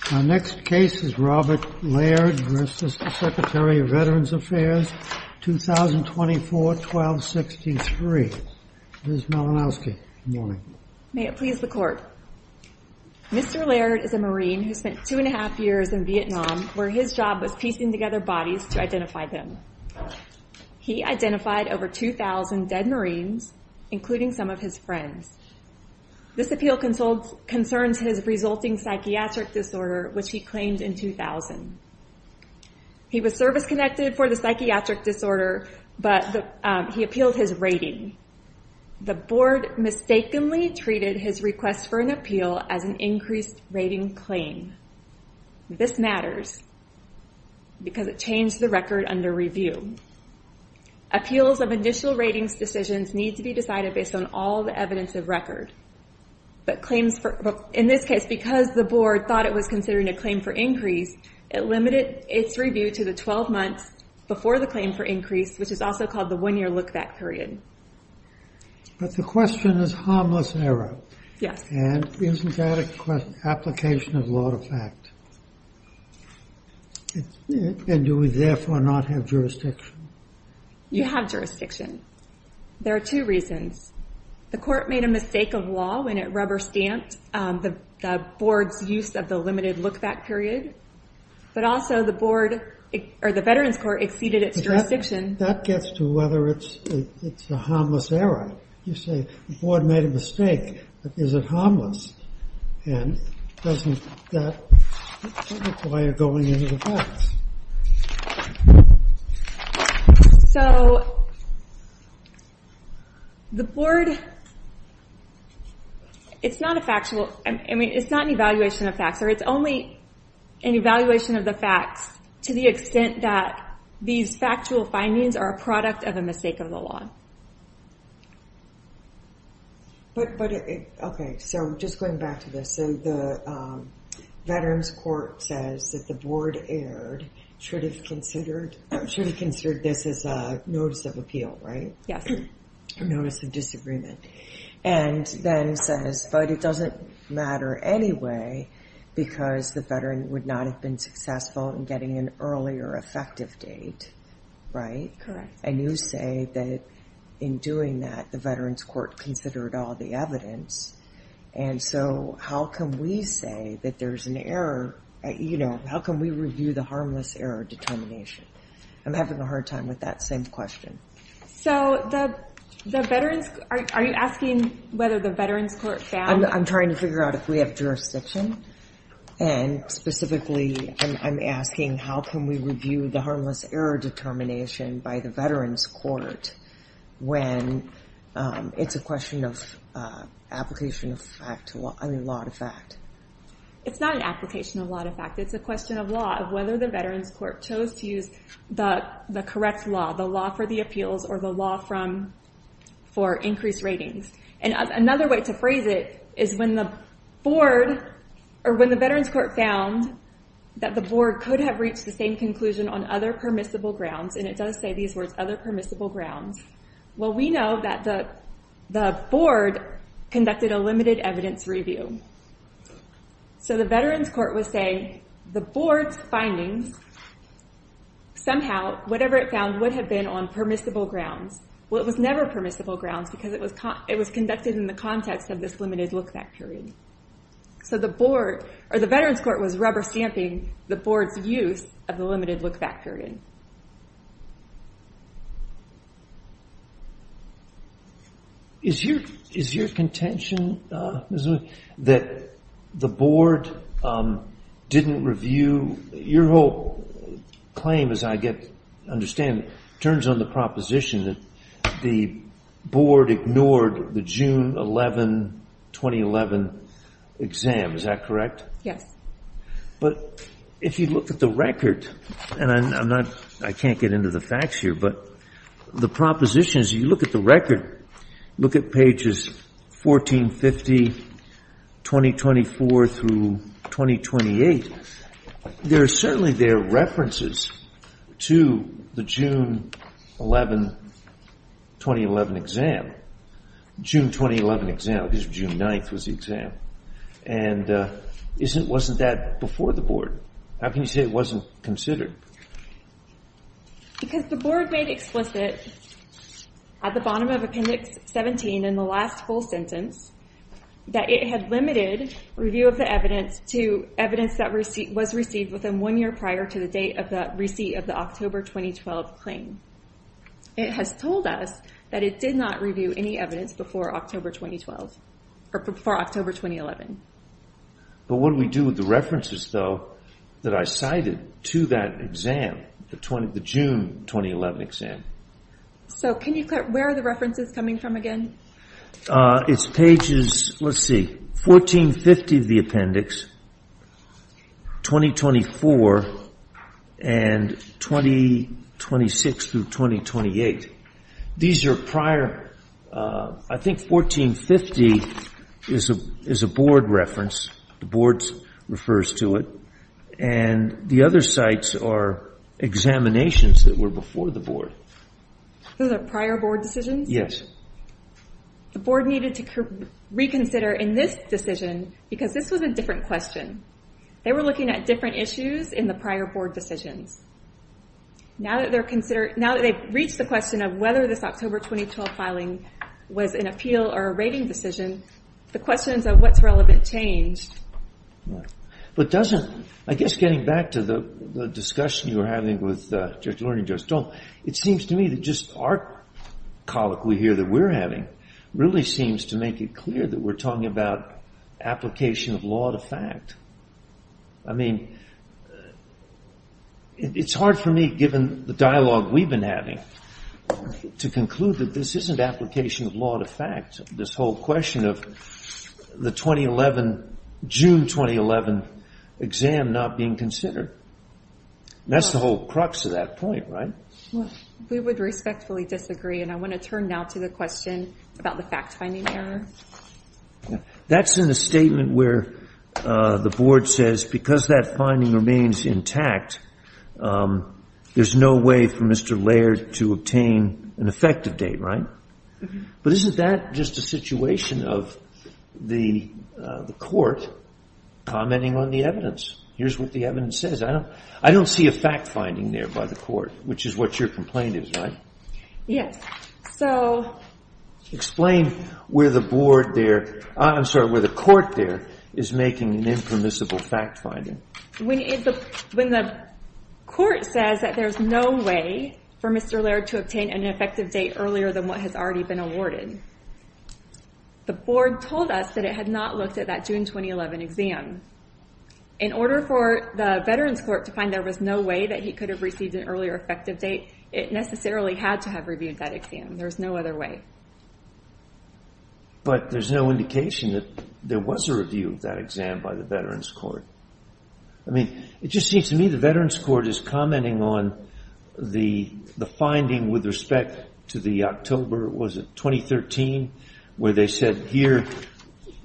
Mr. Laird is a Marine who spent two and a half years in Vietnam where his job was piecing together bodies to identify them. He identified over 2,000 dead Marines, including some of his friends. This appeal concerns his resulting psychiatric disorder, which he claimed in 2000. He was service-connected for the psychiatric disorder, but he appealed his rating. The board mistakenly treated his request for an appeal as an increased rating claim. This matters because it changed the record under review. Appeals of initial ratings decisions need to be decided based on all the evidence of record. In this case, because the board thought it was considering a claim for increase, it limited its review to the 12 months before the claim for increase, which is also called the one-year look-back period. But the question is harmless error. And isn't that an application of law to fact? And do we therefore not have jurisdiction? You have jurisdiction. There are two reasons. The court made a mistake of law when it rubber-stamped the board's use of the limited look-back period. But also the board, or the Veterans Court, exceeded its jurisdiction. That gets to whether it's a harmless error. You say, the board made a mistake, but is it harmless? And doesn't that require going into the facts? So, the board, it's not a factual, I mean, it's not an evaluation of facts. It's only an evaluation of the facts to the extent that these factual findings are a product of a mistake of the law. But, okay, so just going back to this. So, the Veterans Court says that the board erred, should have considered this as a notice of appeal, right? Yes. A notice of disagreement. And then says, but it doesn't matter anyway because the veteran would not have been successful in getting an earlier effective date, right? Correct. And you say that in doing that, the Veterans Court considered all the evidence. And so, how can we say that there's an error? You know, how can we review the harmless error determination? I'm having a hard time with that same question. So, the Veterans, are you asking whether the Veterans Court found? I'm trying to figure out if we have jurisdiction. And specifically, I'm asking how can we review the harmless error determination by the Veterans Court when it's a question of application of fact, I mean, law of fact. It's not an application of law of fact. It's a question of law of whether the Veterans Court chose to use the correct law, the law for the appeals or the law for increased ratings. And another way to phrase it is when the board, or when the Veterans Court found that the board could have reached the same conclusion on other permissible grounds. And it does say these words, other permissible grounds. Well, we know that the board conducted a limited evidence review. So, the Veterans Court was saying the board's findings, somehow, whatever it found, would have been on permissible grounds. Well, it was never permissible grounds because it was conducted in the context of this limited look back period. So, the board, or the Veterans Court was rubber stamping the board's use of the limited look back period. Is your contention that the board didn't review? Your whole claim, as I understand it, turns on the proposition that the board ignored the June 11, 2011 exam. Is that correct? Yes. But if you look at the record, and I'm not, I can't get into the facts here, but the proposition is you look at the record, look at pages 1450, 2024 through 2028. There are certainly there are references to the June 11, 2011 exam. June 2011 exam, because June 9th was the exam. And wasn't that before the board? How can you say it wasn't considered? Because the board made explicit at the bottom of Appendix 17, in the last full sentence, that it had limited review of the evidence to evidence that was received within one year prior to the date of the receipt of the October 2012 claim. It has told us that it did not review any evidence before October 2012, or before October 2011. But what do we do with the references, though, that I cited to that exam, the June 2011 exam? So, where are the references coming from again? It's pages, let's see, 1450 of the appendix, 2024, and 2026 through 2028. These are prior, I think 1450 is a board reference. The board refers to it. And the other sites are examinations that were before the board. Those are prior board decisions? The board needed to reconsider in this decision, because this was a different question. They were looking at different issues in the prior board decisions. Now that they've reached the question of whether this October 2012 filing was an appeal or a rating decision, the questions of what's relevant changed. But doesn't, I guess getting back to the discussion you were having with Judge Lurie and Judge Stone, it seems to me that just our colloquy here that we're having really seems to make it clear that we're talking about application of law to fact. I mean, it's hard for me, given the dialogue we've been having, to conclude that this isn't application of law to fact. This whole question of the June 2011 exam not being considered. That's the whole crux of that point, right? We would respectfully disagree, and I want to turn now to the question about the fact-finding error. That's in the statement where the board says because that finding remains intact, there's no way for Mr. Laird to obtain an effective date, right? But isn't that just a situation of the court commenting on the evidence? Here's what the evidence says. I don't see a fact-finding there by the court, which is what your complaint is, right? Yes. Explain where the board there, I'm sorry, where the court there is making an impermissible fact-finding. When the court says that there's no way for Mr. Laird to obtain an effective date earlier than what has already been awarded, the board told us that it had not looked at that June 2011 exam. In order for the Veterans Court to find there was no way that he could have received an earlier effective date, it necessarily had to have reviewed that exam. There's no other way. But there's no indication that there was a review of that exam by the Veterans Court. I mean, it just seems to me the Veterans Court is commenting on the finding with respect to the October, was it 2013, where they said here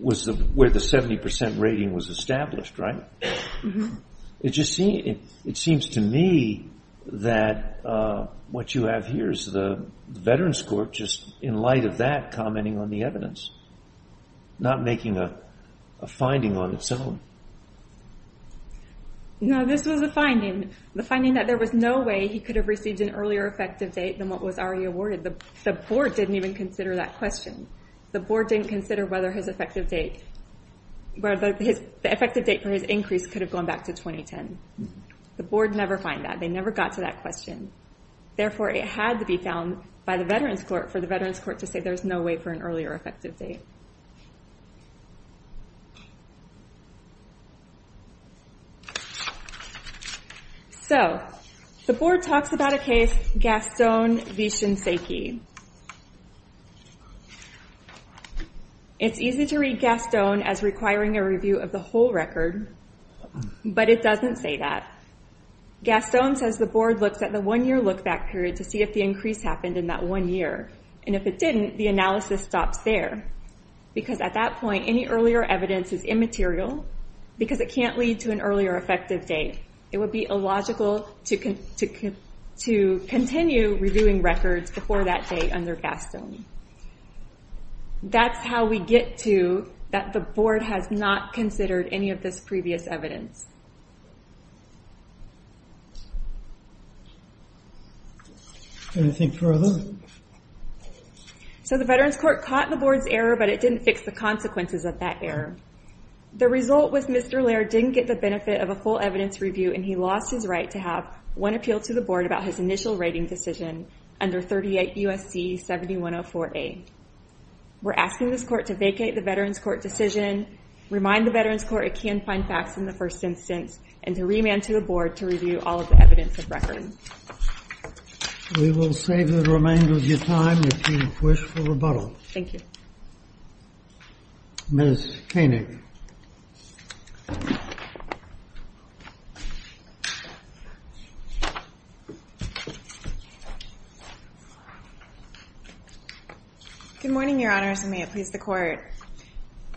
was where the 70% rating was established, right? It just seems to me that what you have here is the Veterans Court just in light of that commenting on the evidence, not making a finding on its own. No, this was a finding. The finding that there was no way he could have received an earlier effective date than what was already awarded. The board didn't even consider that question. The board didn't consider whether the effective date for his increase could have gone back to 2010. The board never found that. They never got to that question. Therefore, it had to be found by the Veterans Court for the Veterans Court to say there's no way for an earlier effective date. So, the board talks about a case, Gaston v. Shinseki. It's easy to read Gaston as requiring a review of the whole record, but it doesn't say that. Gaston says the board looks at the one-year look-back period to see if the increase happened in that one year, and if it didn't, the analysis stops there because at that point, any earlier evidence is immaterial because it can't lead to an earlier effective date. It would be illogical to continue reviewing records before that date under Gaston. That's how we get to that the board has not considered any of this previous evidence. Anything further? So, the Veterans Court caught the board's error, but it didn't fix the consequences of that error. The result was Mr. Laird didn't get the benefit of a full evidence review, and he lost his right to have one appeal to the board about his initial rating decision under 38 U.S.C. 7104A. We're asking this court to vacate the Veterans Court decision, remind the Veterans Court it can find facts in the first instance, and to remand to the board to review all of the evidence of record. We will save the remainder of your time if you wish for rebuttal. Thank you. Ms. Koenig. Good morning, Your Honors, and may it please the Court.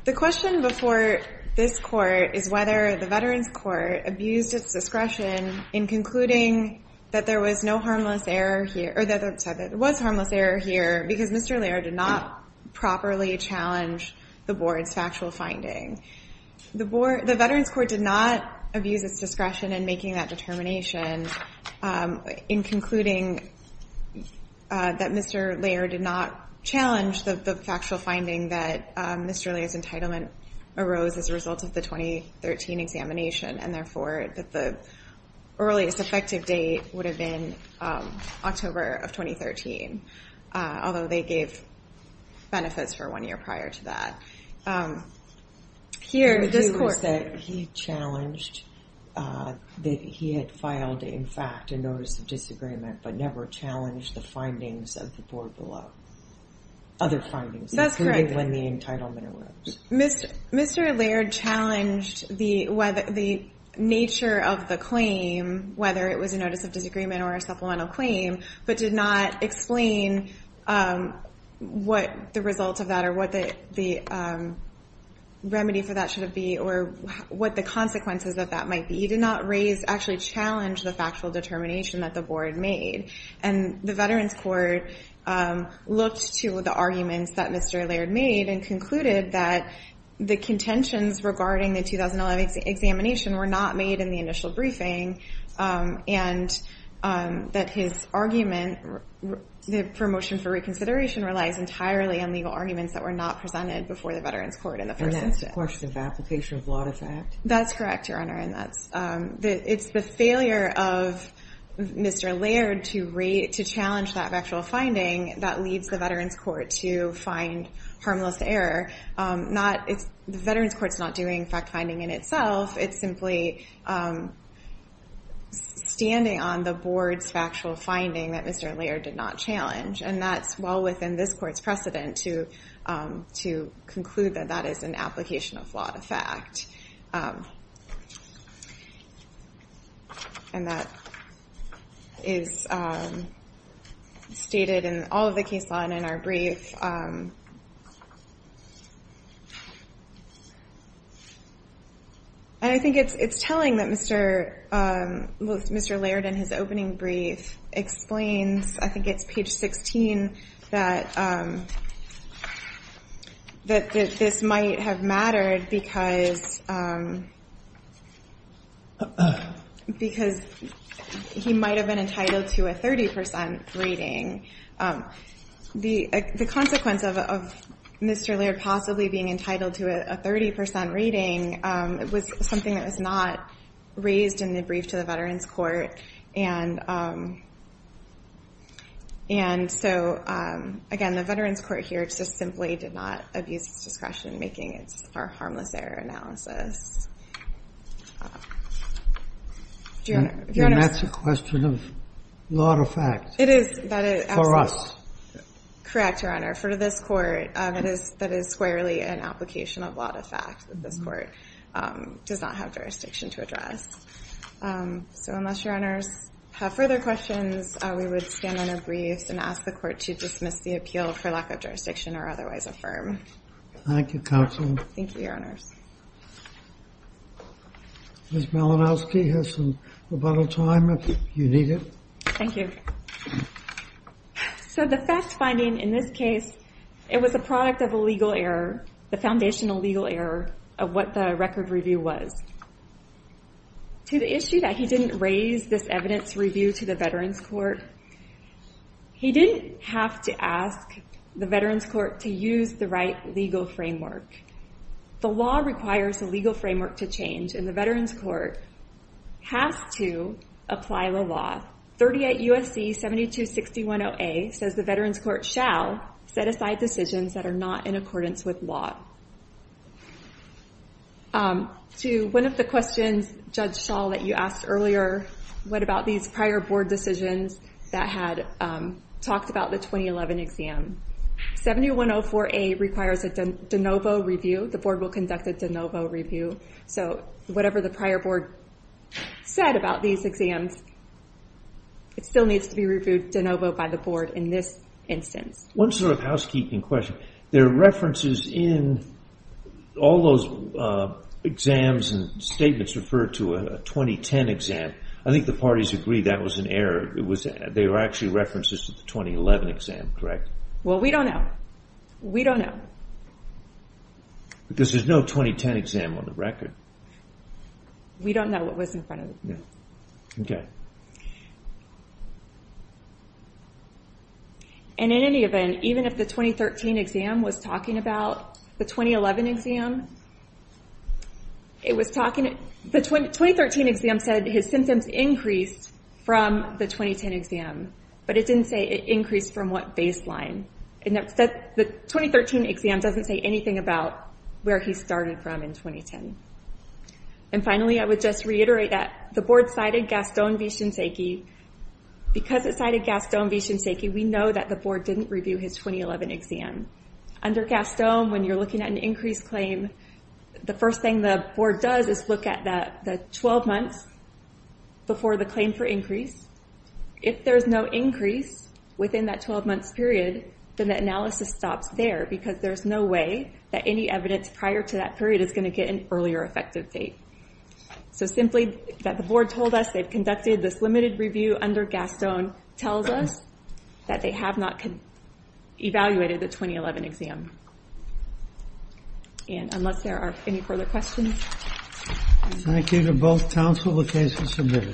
The question before this court is whether the Veterans Court abused its discretion in concluding that there was harmless error here because Mr. Laird did not properly challenge the board's factual finding. The Veterans Court did not abuse its discretion in making that determination in concluding that Mr. Laird did not challenge the factual finding that Mr. Laird's entitlement arose as a result of the 2013 examination, and therefore that the earliest effective date would have been October of 2013, although they gave benefits for one year prior to that. Here in this court. He challenged that he had filed, in fact, a notice of disagreement, but never challenged the findings of the board below. Other findings, including when the entitlement arose. Mr. Laird challenged the nature of the claim, whether it was a notice of disagreement or a supplemental claim, but did not explain what the result of that or what the remedy for that should have been or what the consequences of that might be. He did not actually challenge the factual determination that the board made. And the Veterans Court looked to the arguments that Mr. Laird made and concluded that the contentions regarding the 2011 examination were not made in the initial briefing and that his argument for motion for reconsideration relies entirely on legal arguments that were not presented before the Veterans Court in the first instance. And that's a question of application of law to fact? That's correct, Your Honor. It's the failure of Mr. Laird to challenge that factual finding that leads the Veterans Court to find harmless error. The Veterans Court's not doing fact-finding in itself. It's simply standing on the board's factual finding that Mr. Laird did not challenge. And that's well within this court's precedent to conclude that that is an application of law to fact. And that is stated in all of the case law in our brief. And I think it's telling that Mr. Laird in his opening brief explains, I think it's page 16, that this might have mattered because he might have been entitled to a 30 percent rating. The consequence of Mr. Laird possibly being entitled to a 30 percent rating was something that was not raised in the brief to the Veterans Court. And so, again, the Veterans Court here just simply did not abuse its discretion in making our harmless error analysis. And that's a question of law to fact for us? Correct, Your Honor. For this court, that is squarely an application of law to fact. This court does not have jurisdiction to address. So unless Your Honors have further questions, we would stand on our briefs and ask the court to dismiss the appeal for lack of jurisdiction or otherwise affirm. Thank you, Counsel. Thank you, Your Honors. Ms. Malinowski has some rebuttal time if you need it. Thank you. So the fact finding in this case, it was a product of a legal error, the foundational legal error of what the record review was. To the issue that he didn't raise this evidence review to the Veterans Court, he didn't have to ask the Veterans Court to use the right legal framework. The law requires a legal framework to change, and the Veterans Court has to apply the law. 38 U.S.C. 7261.0a says the Veterans Court shall set aside decisions that are not in accordance with law. To one of the questions, Judge Schall, that you asked earlier, what about these prior board decisions that had talked about the 2011 exam? 7104.a requires a de novo review. The board will conduct a de novo review. So whatever the prior board said about these exams, it still needs to be reviewed de novo by the board in this instance. One sort of housekeeping question. There are references in all those exams and statements referred to a 2010 exam. I think the parties agreed that was an error. They were actually references to the 2011 exam, correct? Well, we don't know. We don't know. Because there's no 2010 exam on the record. We don't know what was in front of the board. Okay. And in any event, even if the 2013 exam was talking about the 2011 exam, it was talking about the 2013 exam said his symptoms increased from the 2010 exam, but it didn't say it increased from what baseline. The 2013 exam doesn't say anything about where he started from in 2010. And finally, I would just reiterate that the board cited Gaston V. Shinsake. Because it cited Gaston V. Shinsake, we know that the board didn't review his 2011 exam. Under Gaston, when you're looking at an increased claim, the first thing the board does is look at the 12 months before the claim for increase. If there's no increase within that 12 months period, then that analysis stops there because there's no way that any evidence prior to that period is going to get an earlier effective date. So simply that the board told us they've conducted this limited review under Gaston tells us that they have not evaluated the 2011 exam. And unless there are any further questions. Thank you to both counsel, the case is submitted.